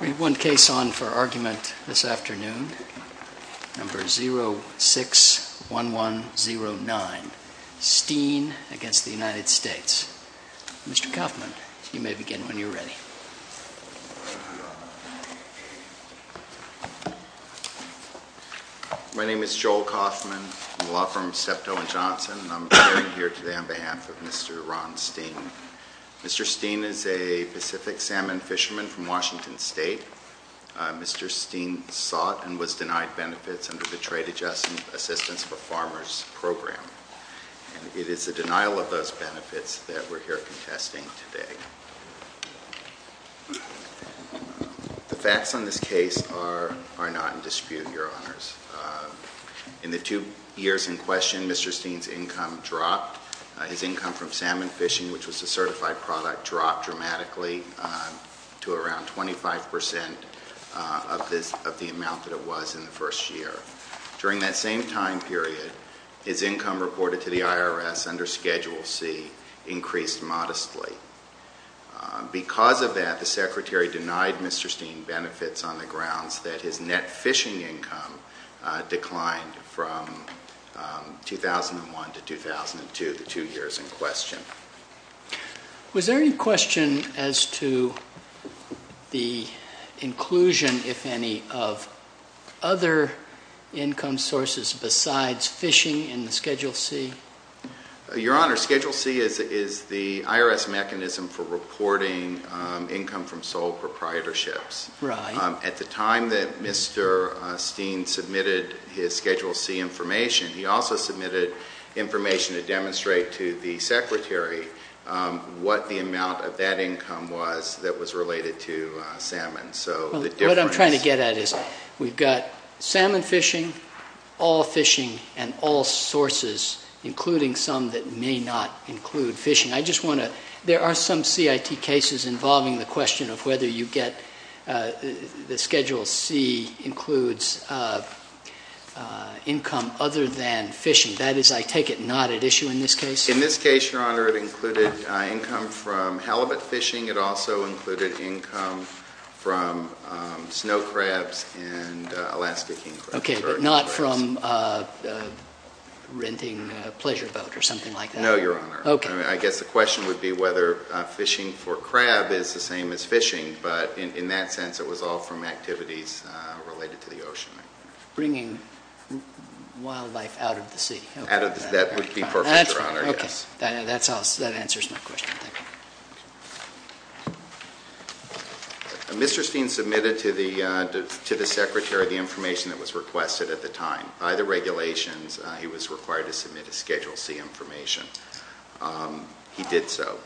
Read one case on for argument this afternoon, number 061109, Steen v. United States. Mr. Kaufman, you may begin when you're ready. My name is Joel Kaufman. I'm a law firm of SEPTO and Johnson, and I'm appearing here today on behalf of Mr. Ron Steen. Mr. Steen is a Pacific salmon fisherman from Washington State. Mr. Steen sought and was denied benefits under the Trade Adjustment Assistance for Farmers Program. It is the denial of those benefits that we're here contesting today. The facts on this case are not in dispute, Your Honors. In the two years in question, Mr. Steen's income dropped. His income from salmon fishing, which was a certified product, dropped dramatically to around 25 percent of the amount that it was in the first year. During that same time period, his income reported to the IRS under Schedule C increased modestly. Because of that, the Secretary denied Mr. Steen benefits on the grounds that his net Was there any question as to the inclusion, if any, of other income sources besides fishing in the Schedule C? Your Honor, Schedule C is the IRS mechanism for reporting income from sole proprietorships. Right. At the time that Mr. Steen submitted his Schedule C information, he also submitted information to demonstrate to the Secretary what the amount of that income was that was related to salmon. So the difference What I'm trying to get at is we've got salmon fishing, all fishing, and all sources, including some that may not include fishing. I just want to There are some CIT cases involving the question of whether you get the Schedule C includes income other than fishing. That is, I take it, not at issue in this case? In this case, Your Honor, it included income from halibut fishing. It also included income from snow crabs and Alaska king crabs. Okay, but not from renting a pleasure boat or something like that? No, Your Honor. Okay. I guess the question would be whether fishing for crab is the same as fishing, but in that sense, it was all from activities related to the ocean. Bringing wildlife out of the sea. That would be perfect, Your Honor. That's fine. Okay. That answers my question. Thank you. Mr. Steen submitted to the Secretary the information that was requested at the time. By the regulations, he was required to submit a Schedule C information. He did so.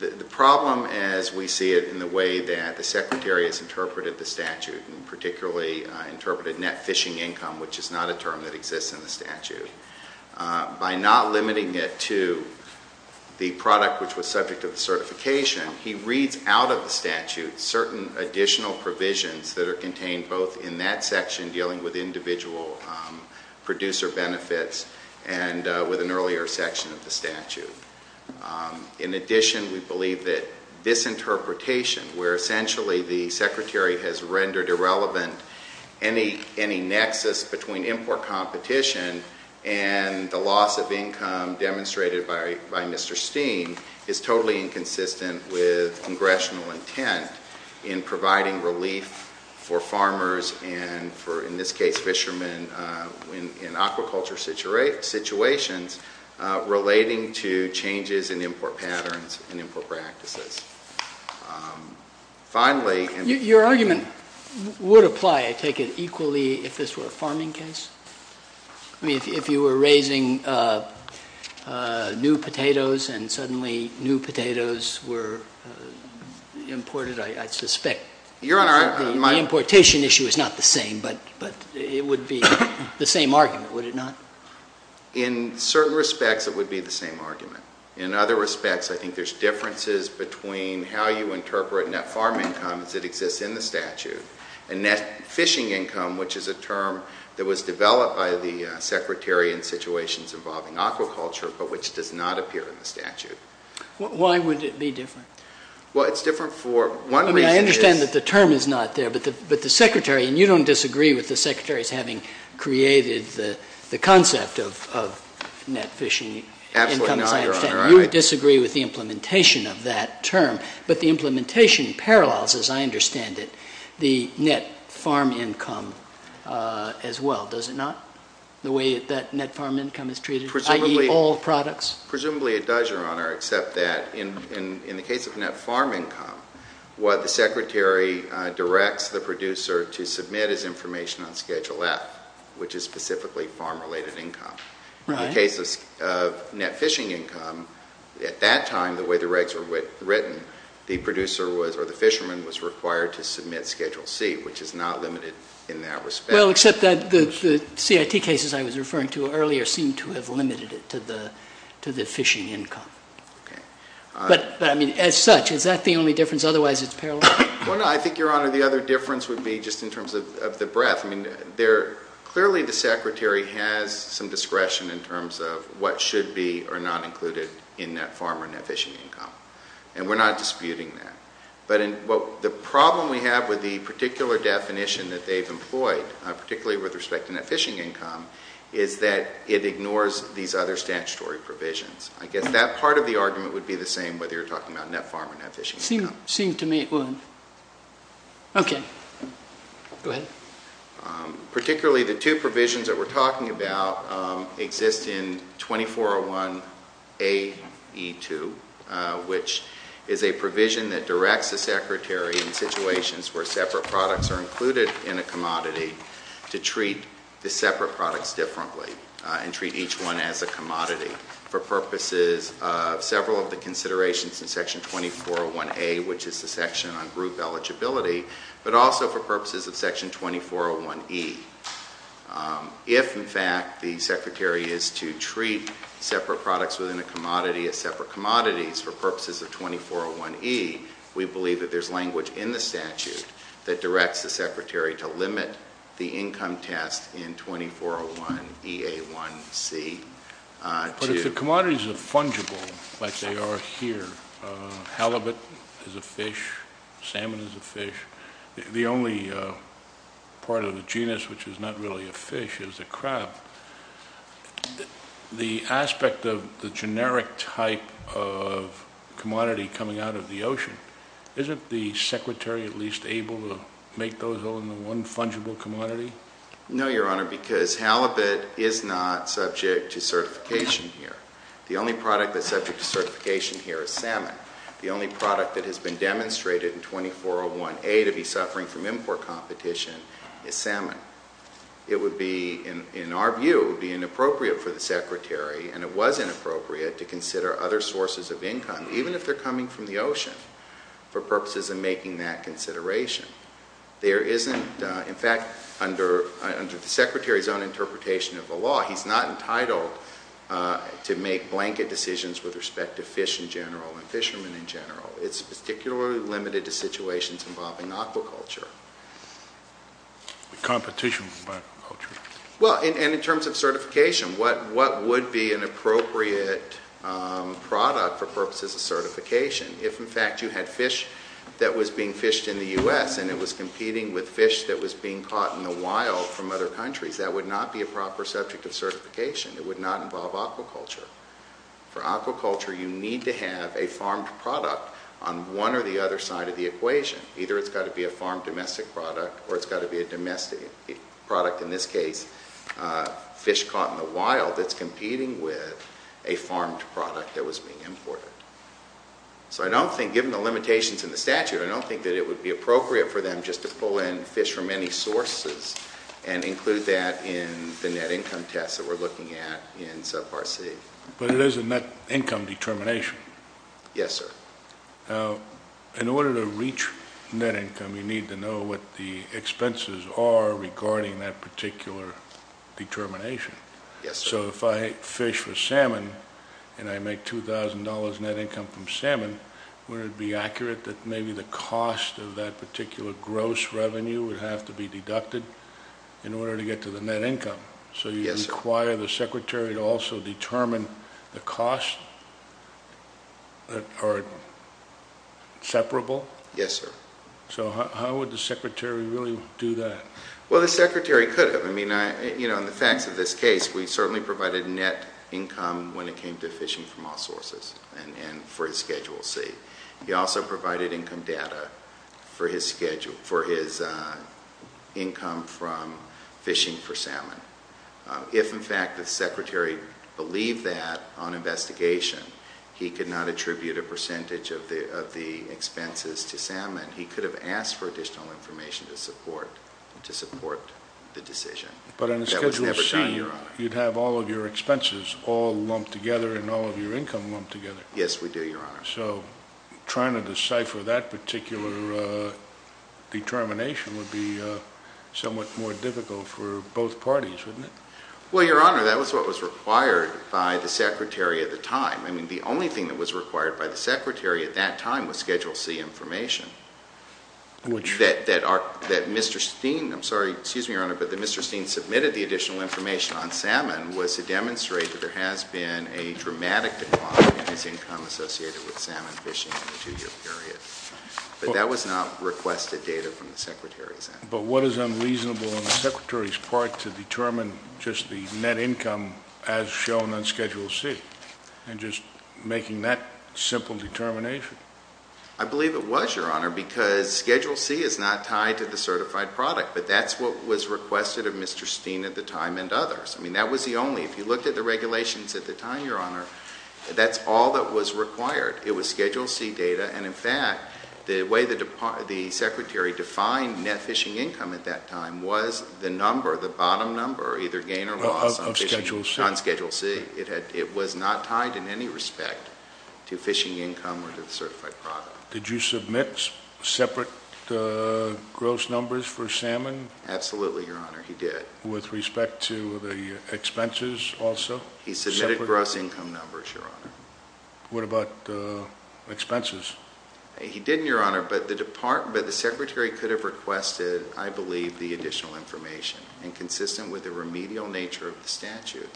The problem, as we see it in the way that the Secretary has interpreted the statute, and particularly interpreted net fishing income, which is not a term that exists in the statute, by not limiting it to the product which was subject to the certification, he reads out of the statute certain additional provisions that are contained both in that section dealing with individual producer benefits and with an earlier section of the statute. In addition, we believe that this interpretation, where essentially the Secretary has rendered irrelevant any nexus between import competition and the loss of income demonstrated by Mr. Steen, is totally inconsistent with congressional intent in providing relief for farmers and for, in this case, fishermen in aquaculture situations relating to changes in import patterns and import practices. Your argument would apply, I take it, equally if this were a farming case? I mean, if you were raising new potatoes and suddenly new potatoes were imported, I suspect the importation issue is not the same, but it would be the same argument, would it not? In certain respects, it would be the same argument. In other respects, I think there are differences between how you interpret net farm income as it exists in the statute and net fishing income, which is a term that was developed by the Secretary in situations involving aquaculture but which does not appear in the statute. Why would it be different? Well, it's different for one reason. I understand that the term is not there, but the Secretary, and you don't disagree with the Secretary's having created the concept of net fishing incomes, I understand. Absolutely not, Your Honor. You disagree with the implementation of that term, but the implementation parallels, as I understand it, the net farm income as well, does it not, the way that net farm income is treated, i.e., all products? Presumably it does, Your Honor, except that in the case of net farm income, what the Secretary directs the producer to submit is information on Schedule F, which is specifically farm-related income. Right. In the case of net fishing income, at that time, the way the regs were written, the producer was, or the fisherman was required to submit Schedule C, which is not limited in that respect. Well, except that the CIT cases I was referring to earlier seem to have limited it to the fishing income. Okay. But, I mean, as such, is that the only difference? Otherwise, it's parallel? Well, no. I think, Your Honor, the other difference would be just in terms of the breadth. I mean, clearly the Secretary has some discretion in terms of what should be or not included in net farm or net fishing income, and we're not disputing that. But the problem we have with the particular definition that they've employed, particularly with respect to net fishing income, is that it ignores these other statutory provisions. I guess that part of the argument would be the same whether you're talking about net farm or net fishing income. It seemed to me it wouldn't. Okay. Go ahead. Particularly the two provisions that we're talking about exist in 2401AE2, which is a requirement of the Secretary in situations where separate products are included in a commodity to treat the separate products differently and treat each one as a commodity for purposes of several of the considerations in Section 2401A, which is the section on group eligibility, but also for purposes of Section 2401E. If, in fact, the Secretary is to treat separate products within a commodity as separate commodities for purposes of 2401E, we believe that there's language in the statute that directs the Secretary to limit the income test in 2401EA1C. But if the commodities are fungible, like they are here, halibut is a fish, salmon is a fish, the only part of the genus which is not really a fish is a crab, the aspect of the generic type of commodity coming out of the ocean. Isn't the Secretary at least able to make those all into one fungible commodity? No, Your Honor, because halibut is not subject to certification here. The only product that's subject to certification here is salmon. The only product that has been demonstrated in 2401A to be suffering from import competition is salmon. It would be, in our view, be inappropriate for the Secretary, and it was inappropriate, to consider other sources of income, even if they're coming from the ocean, for purposes of making that consideration. There isn't, in fact, under the Secretary's own interpretation of the law, he's not entitled to make blanket decisions with respect to fish in general and fishermen in general. It's particularly limited to situations involving aquaculture. Competition with aquaculture? Well, and in terms of certification, what would be an appropriate product for purposes of certification? If, in fact, you had fish that was being fished in the U.S. and it was competing with fish that was being caught in the wild from other countries, that would not be a proper subject of certification. It would not involve aquaculture. For aquaculture, you need to have a farmed product on one or the other side of the equation. Either it's got to be a farmed domestic product, or it's got to be a domestic product, in this case fish caught in the wild that's competing with a farmed product that was being imported. So I don't think, given the limitations in the statute, I don't think that it would be appropriate for them just to pull in fish from any sources and include that in the net income tests that we're looking at in Subpart C. But it is a net income determination. Yes, sir. Now, in order to reach net income, you need to know what the expenses are regarding that particular determination. Yes, sir. So if I fish for salmon and I make $2,000 net income from salmon, would it be accurate that maybe the cost of that particular gross revenue would have to be deducted in order to get to the net income? Yes, sir. Does it require the secretary to also determine the costs that are separable? Yes, sir. So how would the secretary really do that? Well, the secretary could have. I mean, you know, in the facts of this case, we certainly provided net income when it came to fishing from all sources and for Schedule C. He also provided income data for his income from fishing for salmon. If, in fact, the secretary believed that on investigation, he could not attribute a percentage of the expenses to salmon, he could have asked for additional information to support the decision. But on Schedule C, you'd have all of your expenses all lumped together and all of your income lumped together. Yes, we do, Your Honor. So trying to decipher that particular determination would be somewhat more difficult for both parties, wouldn't it? Well, Your Honor, that was what was required by the secretary at the time. I mean, the only thing that was required by the secretary at that time was Schedule C information. Which? That Mr. Steen, I'm sorry, excuse me, Your Honor, but that Mr. Steen submitted the additional information on salmon was to demonstrate that there has been a dramatic decline in his income associated with salmon fishing in the two-year period. But that was not requested data from the secretary's end. But what is unreasonable on the secretary's part to determine just the net income as shown on Schedule C and just making that simple determination? I believe it was, Your Honor, because Schedule C is not tied to the certified product. But that's what was requested of Mr. Steen at the time and others. I mean, that was the only, if you looked at the regulations at the time, Your Honor, that's all that was required. It was Schedule C data. And, in fact, the way the secretary defined net fishing income at that time was the number, the bottom number, either gain or loss on Schedule C. It was not tied in any respect to fishing income or to the certified product. Did you submit separate gross numbers for salmon? Absolutely, Your Honor, he did. With respect to the expenses also? He submitted gross income numbers, Your Honor. What about expenses? He didn't, Your Honor, but the secretary could have requested, I believe, the additional information, and consistent with the remedial nature of the statute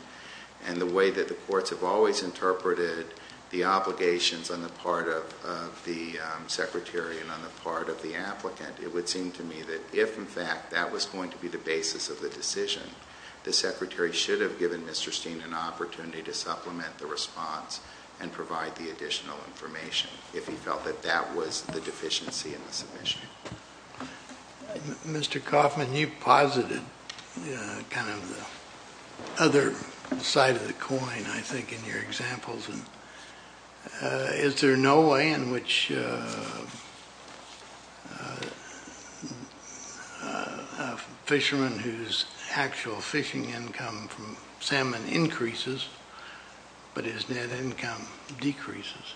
and the way that the courts have always interpreted the obligations on the part of the secretary and on the part of the applicant, it would seem to me that if, in fact, that was going to be the basis of the decision, the secretary should have given Mr. Steen an opportunity to supplement the response and provide the additional information if he felt that that was the deficiency in the submission. Mr. Coffman, you posited kind of the other side of the coin, I think, in your examples. Is there no way in which a fisherman whose actual fishing income from salmon increases but his net income decreases?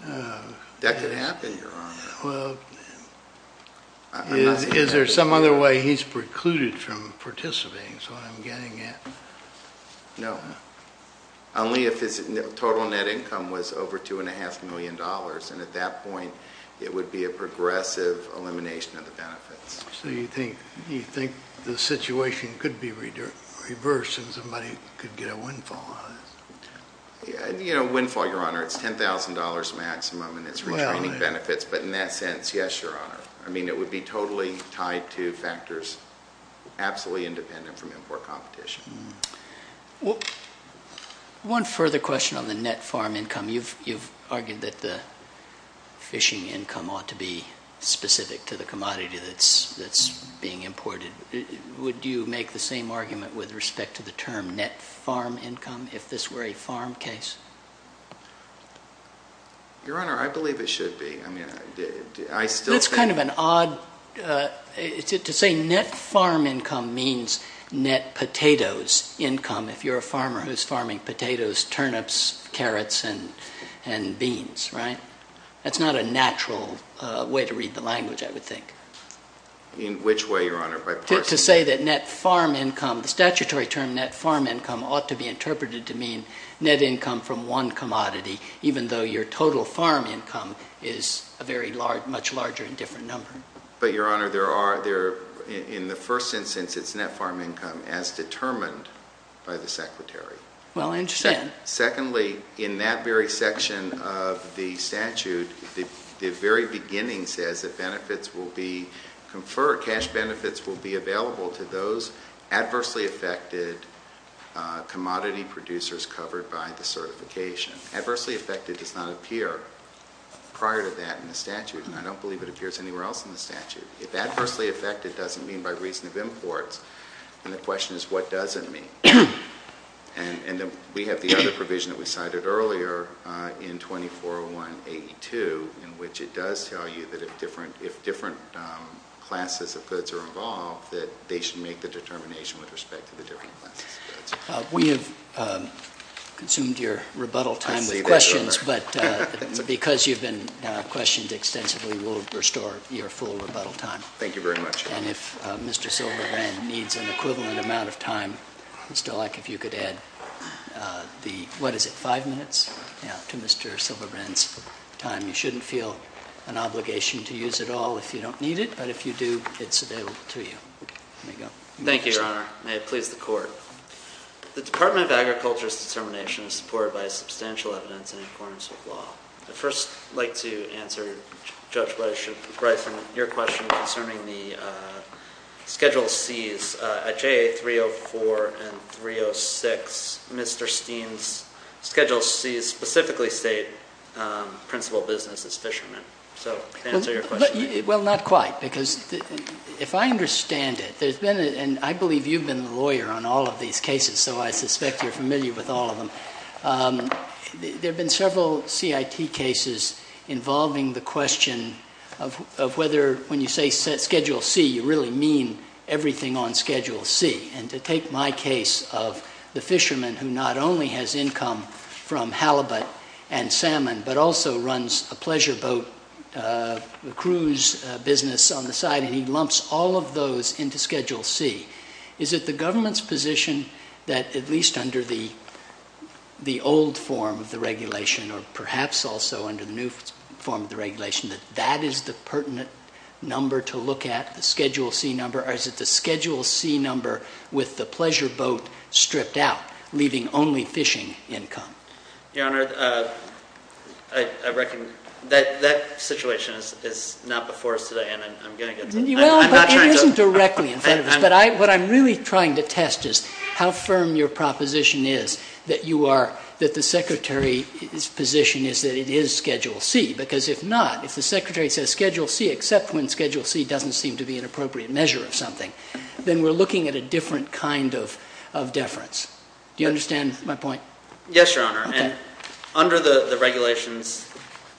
That could happen, Your Honor. Well, is there some other way he's precluded from participating, is what I'm getting at? No, only if his total net income was over $2.5 million, and at that point it would be a progressive elimination of the benefits. So you think the situation could be reversed and somebody could get a windfall? You know, windfall, Your Honor, it's $10,000 maximum and it's retraining benefits, but in that sense, yes, Your Honor. I mean, it would be totally tied to factors absolutely independent from import competition. One further question on the net farm income. You've argued that the fishing income ought to be specific to the commodity that's being imported. Would you make the same argument with respect to the term net farm income if this were a farm case? Your Honor, I believe it should be. That's kind of an odd – to say net farm income means net potatoes income, if you're a farmer who's farming potatoes, turnips, carrots, and beans, right? That's not a natural way to read the language, I would think. In which way, Your Honor? To say that net farm income – the statutory term net farm income ought to be interpreted to mean net income from one commodity, even though your total farm income is a very large – much larger and different number. But, Your Honor, there are – in the first instance, it's net farm income as determined by the Secretary. Well, I understand. Secondly, in that very section of the statute, the very beginning says that benefits will be conferred – cash benefits will be available to those adversely affected commodity producers covered by the certification. Adversely affected does not appear prior to that in the statute, and I don't believe it appears anywhere else in the statute. If adversely affected doesn't mean by reason of imports, then the question is what does it mean? And we have the other provision that we cited earlier in 2401.82, in which it does tell you that if different classes of goods are involved, that they should make the determination with respect to the different classes of goods. We have consumed your rebuttal time with questions, but because you've been questioned extensively, we'll restore your full rebuttal time. Thank you very much, Your Honor. And if Mr. Silva-Wren needs an equivalent amount of time, I'd still like if you could add the – what is it? Five minutes? Yeah, to Mr. Silva-Wren's time. You shouldn't feel an obligation to use it all if you don't need it, but if you do, it's available to you. There you go. Thank you, Your Honor. May it please the Court. The Department of Agriculture's determination is supported by substantial evidence in accordance with law. I'd first like to answer, Judge Gleisen, your question concerning the Schedule Cs. At JA304 and 306, Mr. Steen's Schedule Cs specifically state principal business is fishermen. So can I answer your question? Well, not quite, because if I understand it, there's been – and I believe you've been the lawyer on all of these cases, so I suspect you're familiar with all of them – there have been several CIT cases involving the question of whether, when you say Schedule C, you really mean everything on Schedule C. And to take my case of the fisherman who not only has income from halibut and salmon, but also runs a pleasure boat cruise business on the side, and he lumps all of those into Schedule C. Is it the government's position that, at least under the old form of the regulation, or perhaps also under the new form of the regulation, that that is the pertinent number to look at, the Schedule C number? Or is it the Schedule C number with the pleasure boat stripped out, leaving only fishing income? Your Honor, I reckon that situation is not before us today, and I'm going to get to it. Well, but it isn't directly in front of us. But what I'm really trying to test is how firm your proposition is that you are – that the Secretary's position is that it is Schedule C. Because if not, if the Secretary says Schedule C, except when Schedule C doesn't seem to be an appropriate measure of something, then we're looking at a different kind of deference. Do you understand my point? Yes, Your Honor. Okay. And under the regulations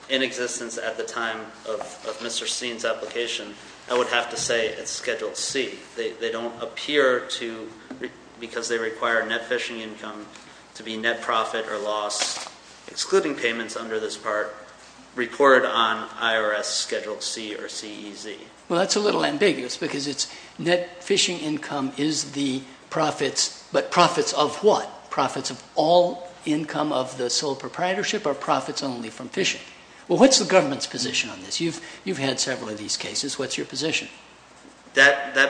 in existence at the time of Mr. Steen's application, I would have to say it's Schedule C. They don't appear to, because they require net fishing income to be net profit or loss, excluding payments under this part, reported on IRS Schedule C or CEZ. Well, that's a little ambiguous because it's net fishing income is the profits, but profits of what? Profits of all income of the sole proprietorship or profits only from fishing? Well, what's the government's position on this? You've had several of these cases. What's your position? That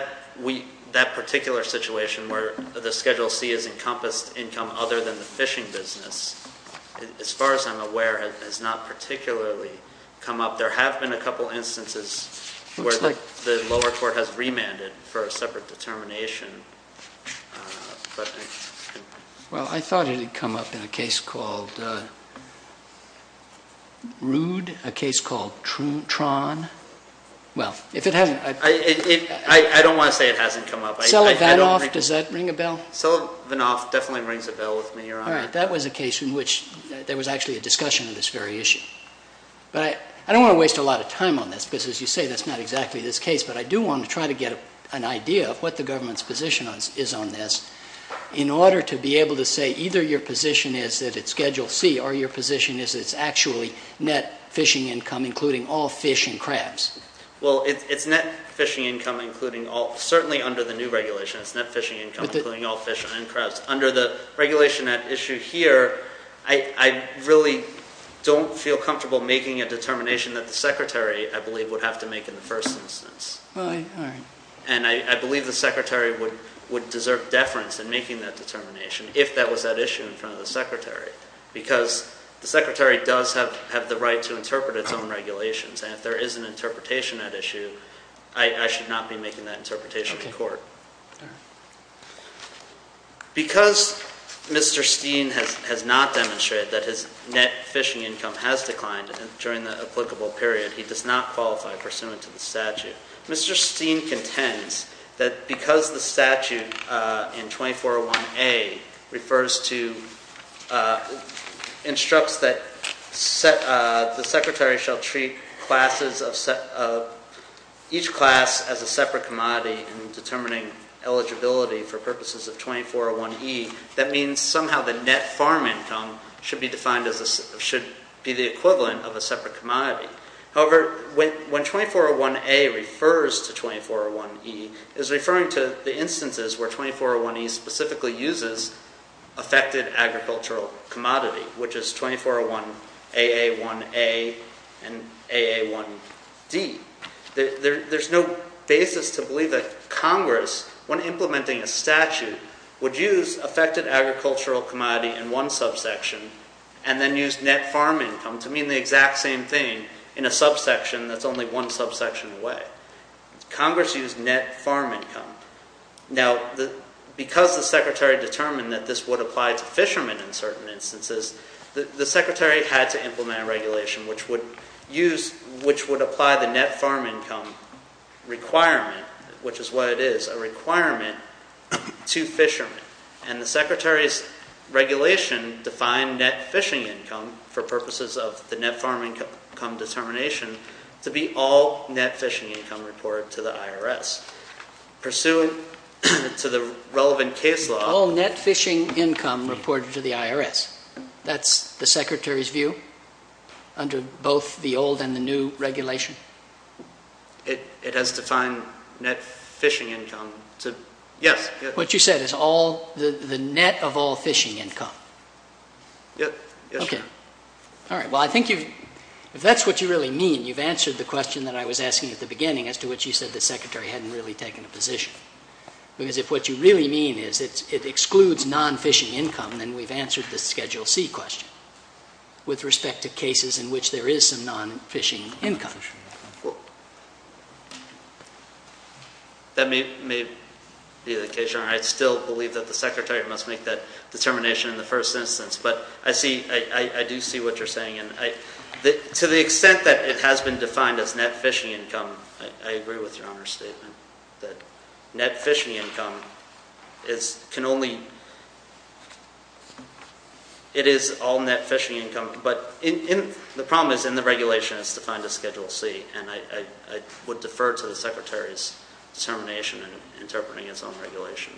particular situation where the Schedule C is encompassed income other than the fishing business, as far as I'm aware, has not particularly come up. There have been a couple instances where the lower court has remanded for a separate determination. Well, I thought it had come up in a case called Rood, a case called Tron. Well, if it hasn't. I don't want to say it hasn't come up. Sullivanoff, does that ring a bell? Sullivanoff definitely rings a bell with me, Your Honor. All right. That was a case in which there was actually a discussion of this very issue. But I don't want to waste a lot of time on this because, as you say, that's not exactly this case. But I do want to try to get an idea of what the government's position is on this in order to be able to say either your position is that it's Schedule C or your position is it's actually net fishing income, including all fish and crabs. Well, it's net fishing income, certainly under the new regulation. It's net fishing income, including all fish and crabs. Under the regulation at issue here, I really don't feel comfortable making a determination that the Secretary, I believe, would have to make in the first instance. All right. And I believe the Secretary would deserve deference in making that determination if that was at issue in front of the Secretary because the Secretary does have the right to interpret its own regulations. And if there is an interpretation at issue, I should not be making that interpretation in court. Okay. All right. Because Mr. Steen has not demonstrated that his net fishing income has declined during the applicable period, he does not qualify pursuant to the statute. Mr. Steen contends that because the statute in 2401A refers to instructs that the Secretary shall treat each class as a separate commodity in determining eligibility for purposes of 2401E, that means somehow the net farm income should be defined as a should be the equivalent of a separate commodity. However, when 2401A refers to 2401E, it's referring to the instances where 2401E specifically uses affected agricultural commodity, which is 2401AA1A and AA1D. There's no basis to believe that Congress, when implementing a statute, would use affected agricultural commodity in one subsection and then use net farm income to mean the exact same thing in a subsection that's only one subsection away. Congress used net farm income. Now, because the Secretary determined that this would apply to fishermen in certain instances, the Secretary had to implement a regulation which would apply the net farm income requirement, which is what it is, a requirement to fishermen. And the Secretary's regulation defined net fishing income for purposes of the net farm income determination to be all net fishing income reported to the IRS. Pursuant to the relevant case law... All net fishing income reported to the IRS. That's the Secretary's view under both the old and the new regulation? It has defined net fishing income to... Yes. What you said is the net of all fishing income. Yes, sir. All right. Well, I think if that's what you really mean, you've answered the question that I was asking at the beginning, as to what you said the Secretary hadn't really taken a position. Because if what you really mean is it excludes non-fishing income, then we've answered the Schedule C question with respect to cases in which there is some non-fishing income. That may be the case, Your Honor. I still believe that the Secretary must make that determination in the first instance. But I do see what you're saying. To the extent that it has been defined as net fishing income, I agree with Your Honor's statement. That net fishing income can only... It is all net fishing income. But the problem is in the regulation it's defined as Schedule C. And I would defer to the Secretary's determination in interpreting its own regulation.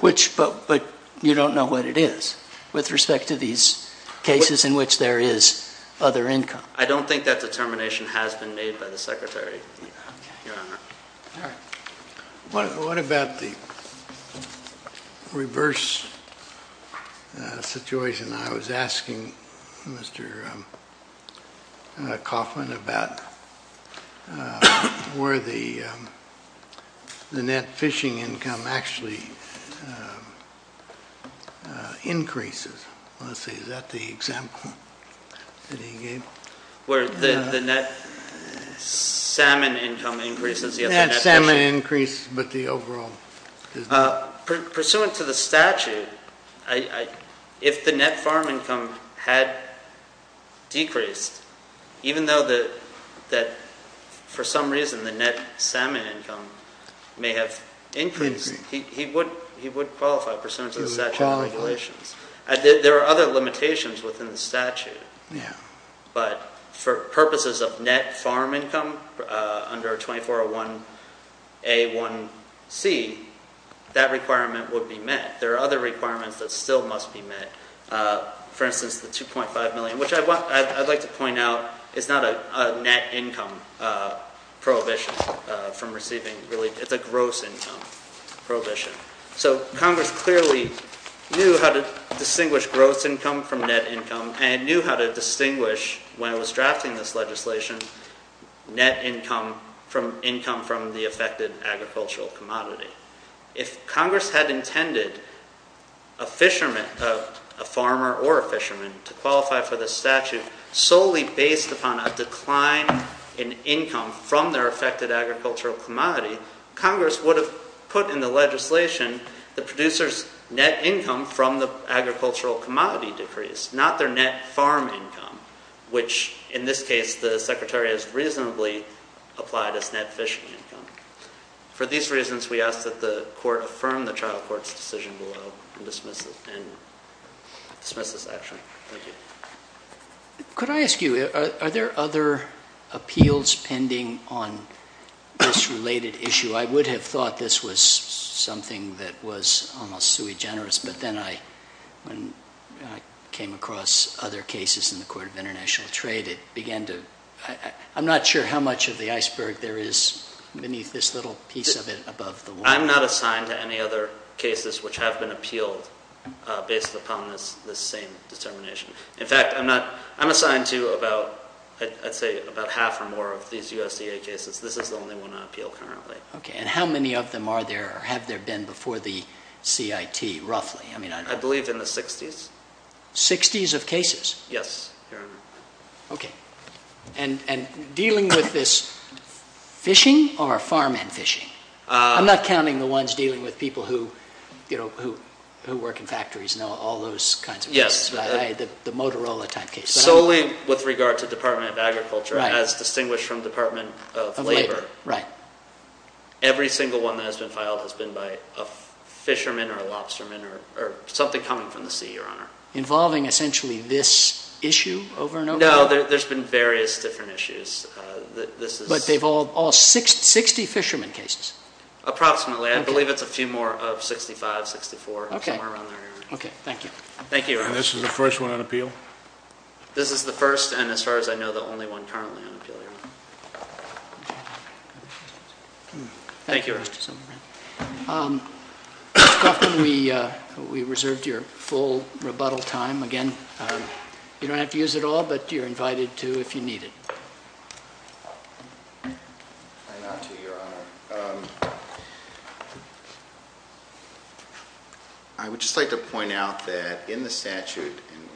But you don't know what it is? With respect to these cases in which there is other income. I don't think that determination has been made by the Secretary, Your Honor. All right. What about the reverse situation? I was asking Mr. Kaufman about where the net fishing income actually increases. Let's see, is that the example that he gave? Where the net salmon income increases? The net salmon increase, but the overall... Pursuant to the statute, if the net farm income had decreased, even though that for some reason the net salmon income may have increased, he would qualify pursuant to the statute of regulations. But for purposes of net farm income under 2401A1C, that requirement would be met. There are other requirements that still must be met. For instance, the $2.5 million, which I'd like to point out, is not a net income prohibition from receiving relief. It's a gross income prohibition. So Congress clearly knew how to distinguish gross income from net income and knew how to distinguish, when it was drafting this legislation, net income from the affected agricultural commodity. If Congress had intended a fisherman, a farmer or a fisherman, to qualify for the statute solely based upon a decline in income from their affected agricultural commodity, Congress would have put in the legislation the producer's net income from the agricultural commodity decrease, not their net farm income, which in this case the Secretary has reasonably applied as net fishing income. For these reasons, we ask that the Court affirm the trial court's decision below and dismiss this action. Thank you. Could I ask you, are there other appeals pending on this related issue? I would have thought this was something that was almost sui generis, but then I came across other cases in the Court of International Trade. I'm not sure how much of the iceberg there is beneath this little piece of it above the line. I'm not assigned to any other cases which have been appealed based upon this same determination. In fact, I'm assigned to about, I'd say, about half or more of these USDA cases. This is the only one I appeal currently. Okay, and how many of them are there or have there been before the CIT, roughly? I believe in the 60s. 60s of cases? Yes. Okay, and dealing with this fishing or farmhand fishing? I'm not counting the ones dealing with people who work in factories and all those kinds of cases, the Motorola type cases. Solely with regard to Department of Agriculture, as distinguished from Department of Labor. Right. Every single one that has been filed has been by a fisherman or a lobsterman or something coming from the sea, Your Honor. Involving essentially this issue over and over again? No, there's been various different issues. But they've all 60 fisherman cases? Approximately. I believe it's a few more of 65, 64, somewhere around there. Okay, thank you. Thank you, Your Honor. And this is the first one on appeal? This is the first and, as far as I know, the only one currently on appeal, Your Honor. Thank you, Your Honor. Mr. Coffman, we reserved your full rebuttal time again. You don't have to use it all, but you're invited to if you need it. I would just like to point out that in the statute, and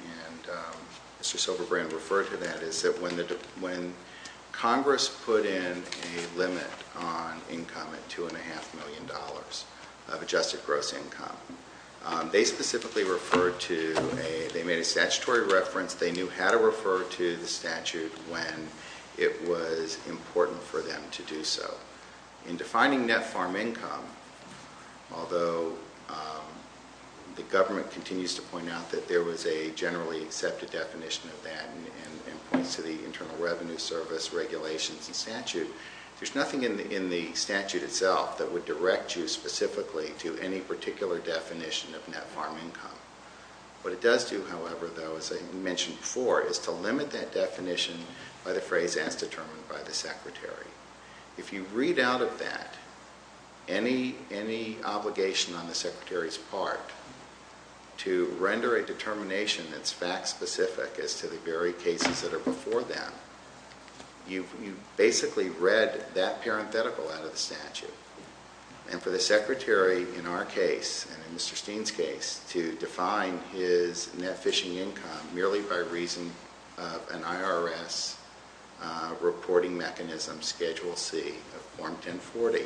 Mr. Silberbrand referred to that, is that when Congress put in a limit on income at $2.5 million of adjusted gross income, they specifically referred to, they made a statutory reference, they knew how to refer to the statute when it was important for them to do so. In defining net farm income, although the government continues to point out that there was a generally accepted definition of that and points to the Internal Revenue Service regulations and statute, there's nothing in the statute itself that would direct you specifically to any particular definition of net farm income. What it does do, however, though, as I mentioned before, is to limit that definition by the phrase, as determined by the Secretary. If you read out of that any obligation on the Secretary's part to render a determination that's fact-specific as to the very cases that are before them, you've basically read that parenthetical out of the statute. And for the Secretary, in our case, and in Mr. Steen's case, to define his net fishing income merely by reason of an IRS reporting mechanism, Schedule C of Form 1040,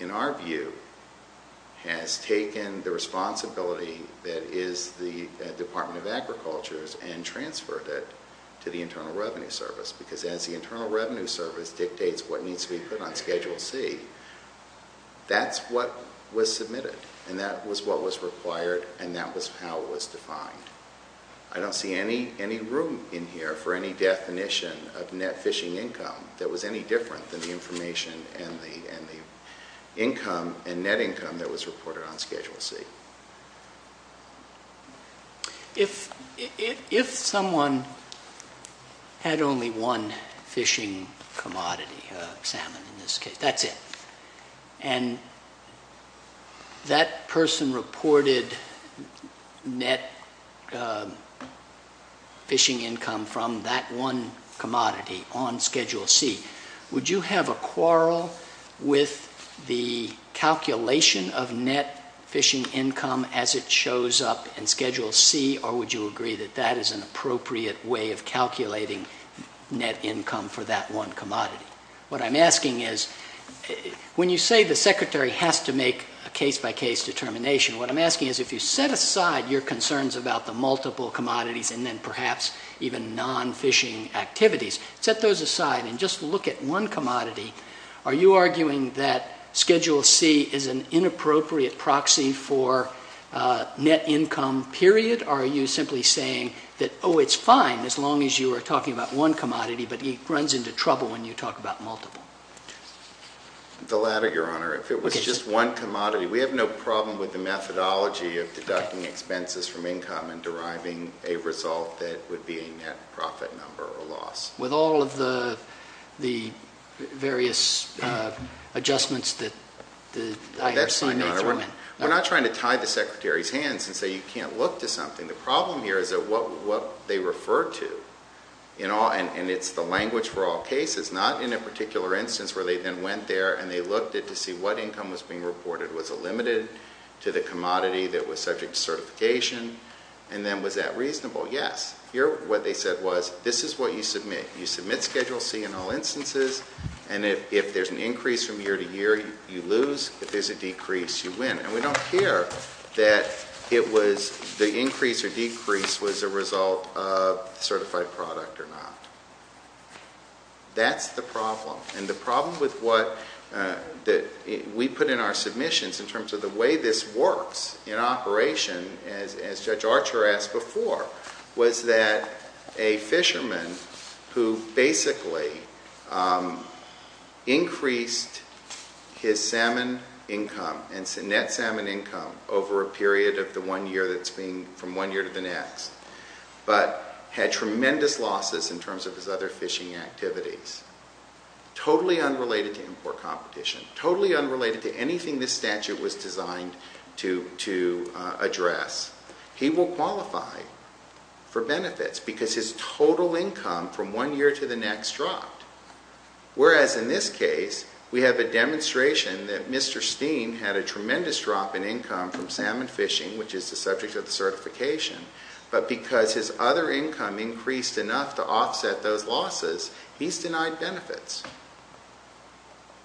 in our view, has taken the responsibility that is the Department of Agriculture's and transferred it to the Internal Revenue Service because as the Internal Revenue Service dictates what needs to be put on Schedule C, that's what was submitted and that was what was required and that was how it was defined. I don't see any room in here for any definition of net fishing income that was any different than the information and the income and net income that was reported on Schedule C. If someone had only one fishing commodity, salmon in this case, that's it, and that person reported net fishing income from that one commodity on Schedule C, would you have a quarrel with the calculation of net fishing income as it shows up in Schedule C or would you agree that that is an appropriate way of calculating net income for that one commodity? What I'm asking is when you say the Secretary has to make a case-by-case determination, what I'm asking is if you set aside your concerns about the multiple commodities and then perhaps even non-fishing activities, set those aside and just look at one commodity, are you arguing that Schedule C is an inappropriate proxy for net income period or are you simply saying that, oh, it's fine as long as you are talking about one commodity but it runs into trouble when you talk about multiple? The latter, Your Honor. If it was just one commodity, we have no problem with the methodology of deducting expenses from income and deriving a result that would be a net profit number or loss. With all of the various adjustments that I have signed off on? We're not trying to tie the Secretary's hands and say you can't look to something. The problem here is that what they refer to, and it's the language for all cases, not in a particular instance where they then went there and they looked to see what income was being reported. Was it limited to the commodity that was subject to certification? And then was that reasonable? Yes. Here what they said was this is what you submit. You submit Schedule C in all instances, and if there's an increase from year to year, you lose. If there's a decrease, you win. And we don't care that it was the increase or decrease was a result of certified product or not. That's the problem. And the problem with what we put in our submissions in terms of the way this works in operation, as Judge Archer asked before, was that a fisherman who basically increased his salmon income and net salmon income over a period of the one year that's been from one year to the next, but had tremendous losses in terms of his other fishing activities, totally unrelated to import competition, totally unrelated to anything this statute was designed to address, he will qualify for benefits because his total income from one year to the next dropped. Whereas in this case, we have a demonstration that Mr. Steen had a tremendous drop in income from salmon fishing, which is the subject of the certification, but because his other income increased enough to offset those losses, he's denied benefits.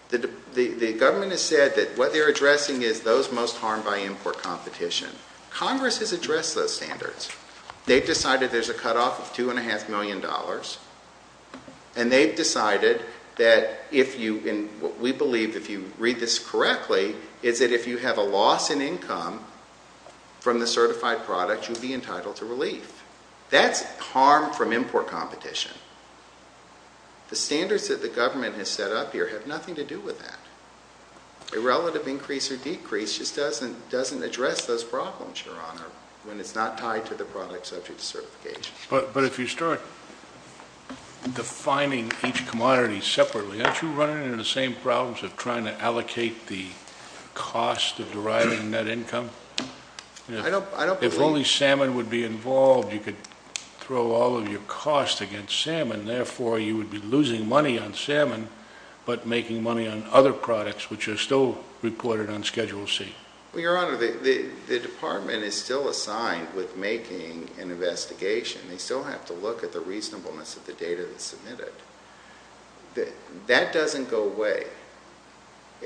The government has said that what they're addressing is those most harmed by import competition. Congress has addressed those standards. They've decided there's a cutoff of $2.5 million, and they've decided that if you, and we believe if you read this correctly, is that if you have a loss in income from the certified product, you'd be entitled to relief. That's harm from import competition. The standards that the government has set up here have nothing to do with that. A relative increase or decrease just doesn't address those problems, Your Honor, But if you start defining each commodity separately, aren't you running into the same problems of trying to allocate the cost of deriving that income? If only salmon would be involved, you could throw all of your costs against salmon. Therefore, you would be losing money on salmon but making money on other products, which are still reported on Schedule C. Well, Your Honor, the department is still assigned with making an investigation. They still have to look at the reasonableness of the data that's submitted. That doesn't go away.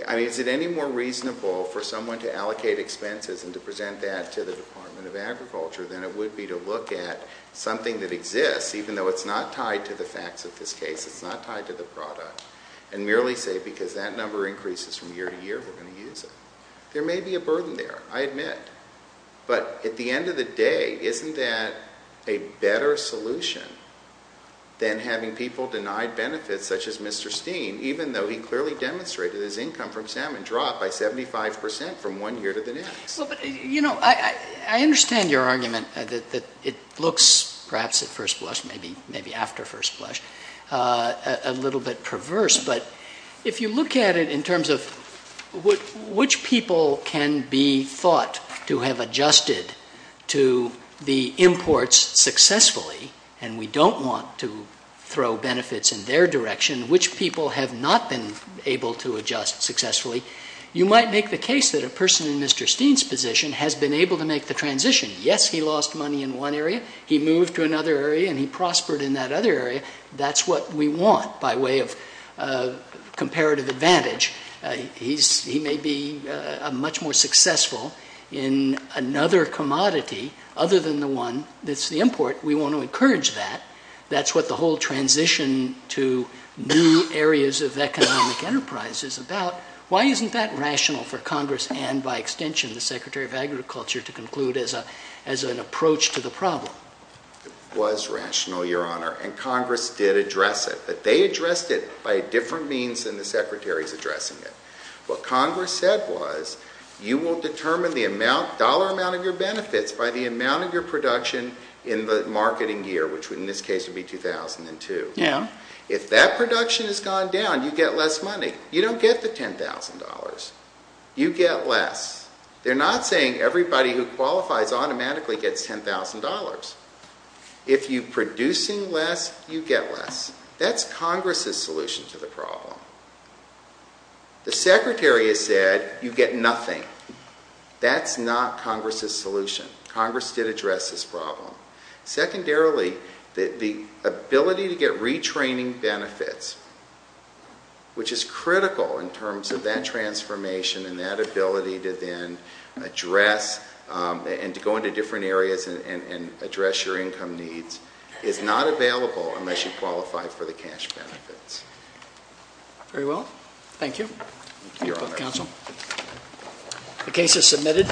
I mean, is it any more reasonable for someone to allocate expenses and to present that to the Department of Agriculture than it would be to look at something that exists, even though it's not tied to the facts of this case, it's not tied to the product, and merely say because that number increases from year to year, we're going to use it. There may be a burden there, I admit. But at the end of the day, isn't that a better solution than having people denied benefits such as Mr. Steen, even though he clearly demonstrated his income from salmon dropped by 75 percent from one year to the next? Well, but, you know, I understand your argument that it looks perhaps at first blush, maybe after first blush, a little bit perverse. But if you look at it in terms of which people can be thought to have adjusted to the imports successfully, and we don't want to throw benefits in their direction, which people have not been able to adjust successfully, you might make the case that a person in Mr. Steen's position has been able to make the transition. Yes, he lost money in one area. He moved to another area, and he prospered in that other area. That's what we want by way of comparative advantage. He may be much more successful in another commodity other than the one that's the import. We want to encourage that. That's what the whole transition to new areas of economic enterprise is about. Why isn't that rational for Congress and, by extension, the Secretary of Agriculture to conclude as an approach to the problem? It was rational, Your Honor. And Congress did address it. But they addressed it by a different means than the Secretary's addressing it. What Congress said was you will determine the dollar amount of your benefits by the amount of your production in the marketing year, which in this case would be 2002. If that production has gone down, you get less money. You don't get the $10,000. You get less. They're not saying everybody who qualifies automatically gets $10,000. If you're producing less, you get less. That's Congress's solution to the problem. The Secretary has said you get nothing. That's not Congress's solution. Congress did address this problem. Secondarily, the ability to get retraining benefits, which is critical in terms of that transformation and that ability to then address and to go into different areas and address your income needs, is not available unless you qualify for the cash benefits. Very well. Thank you. Your Honor. The case is submitted.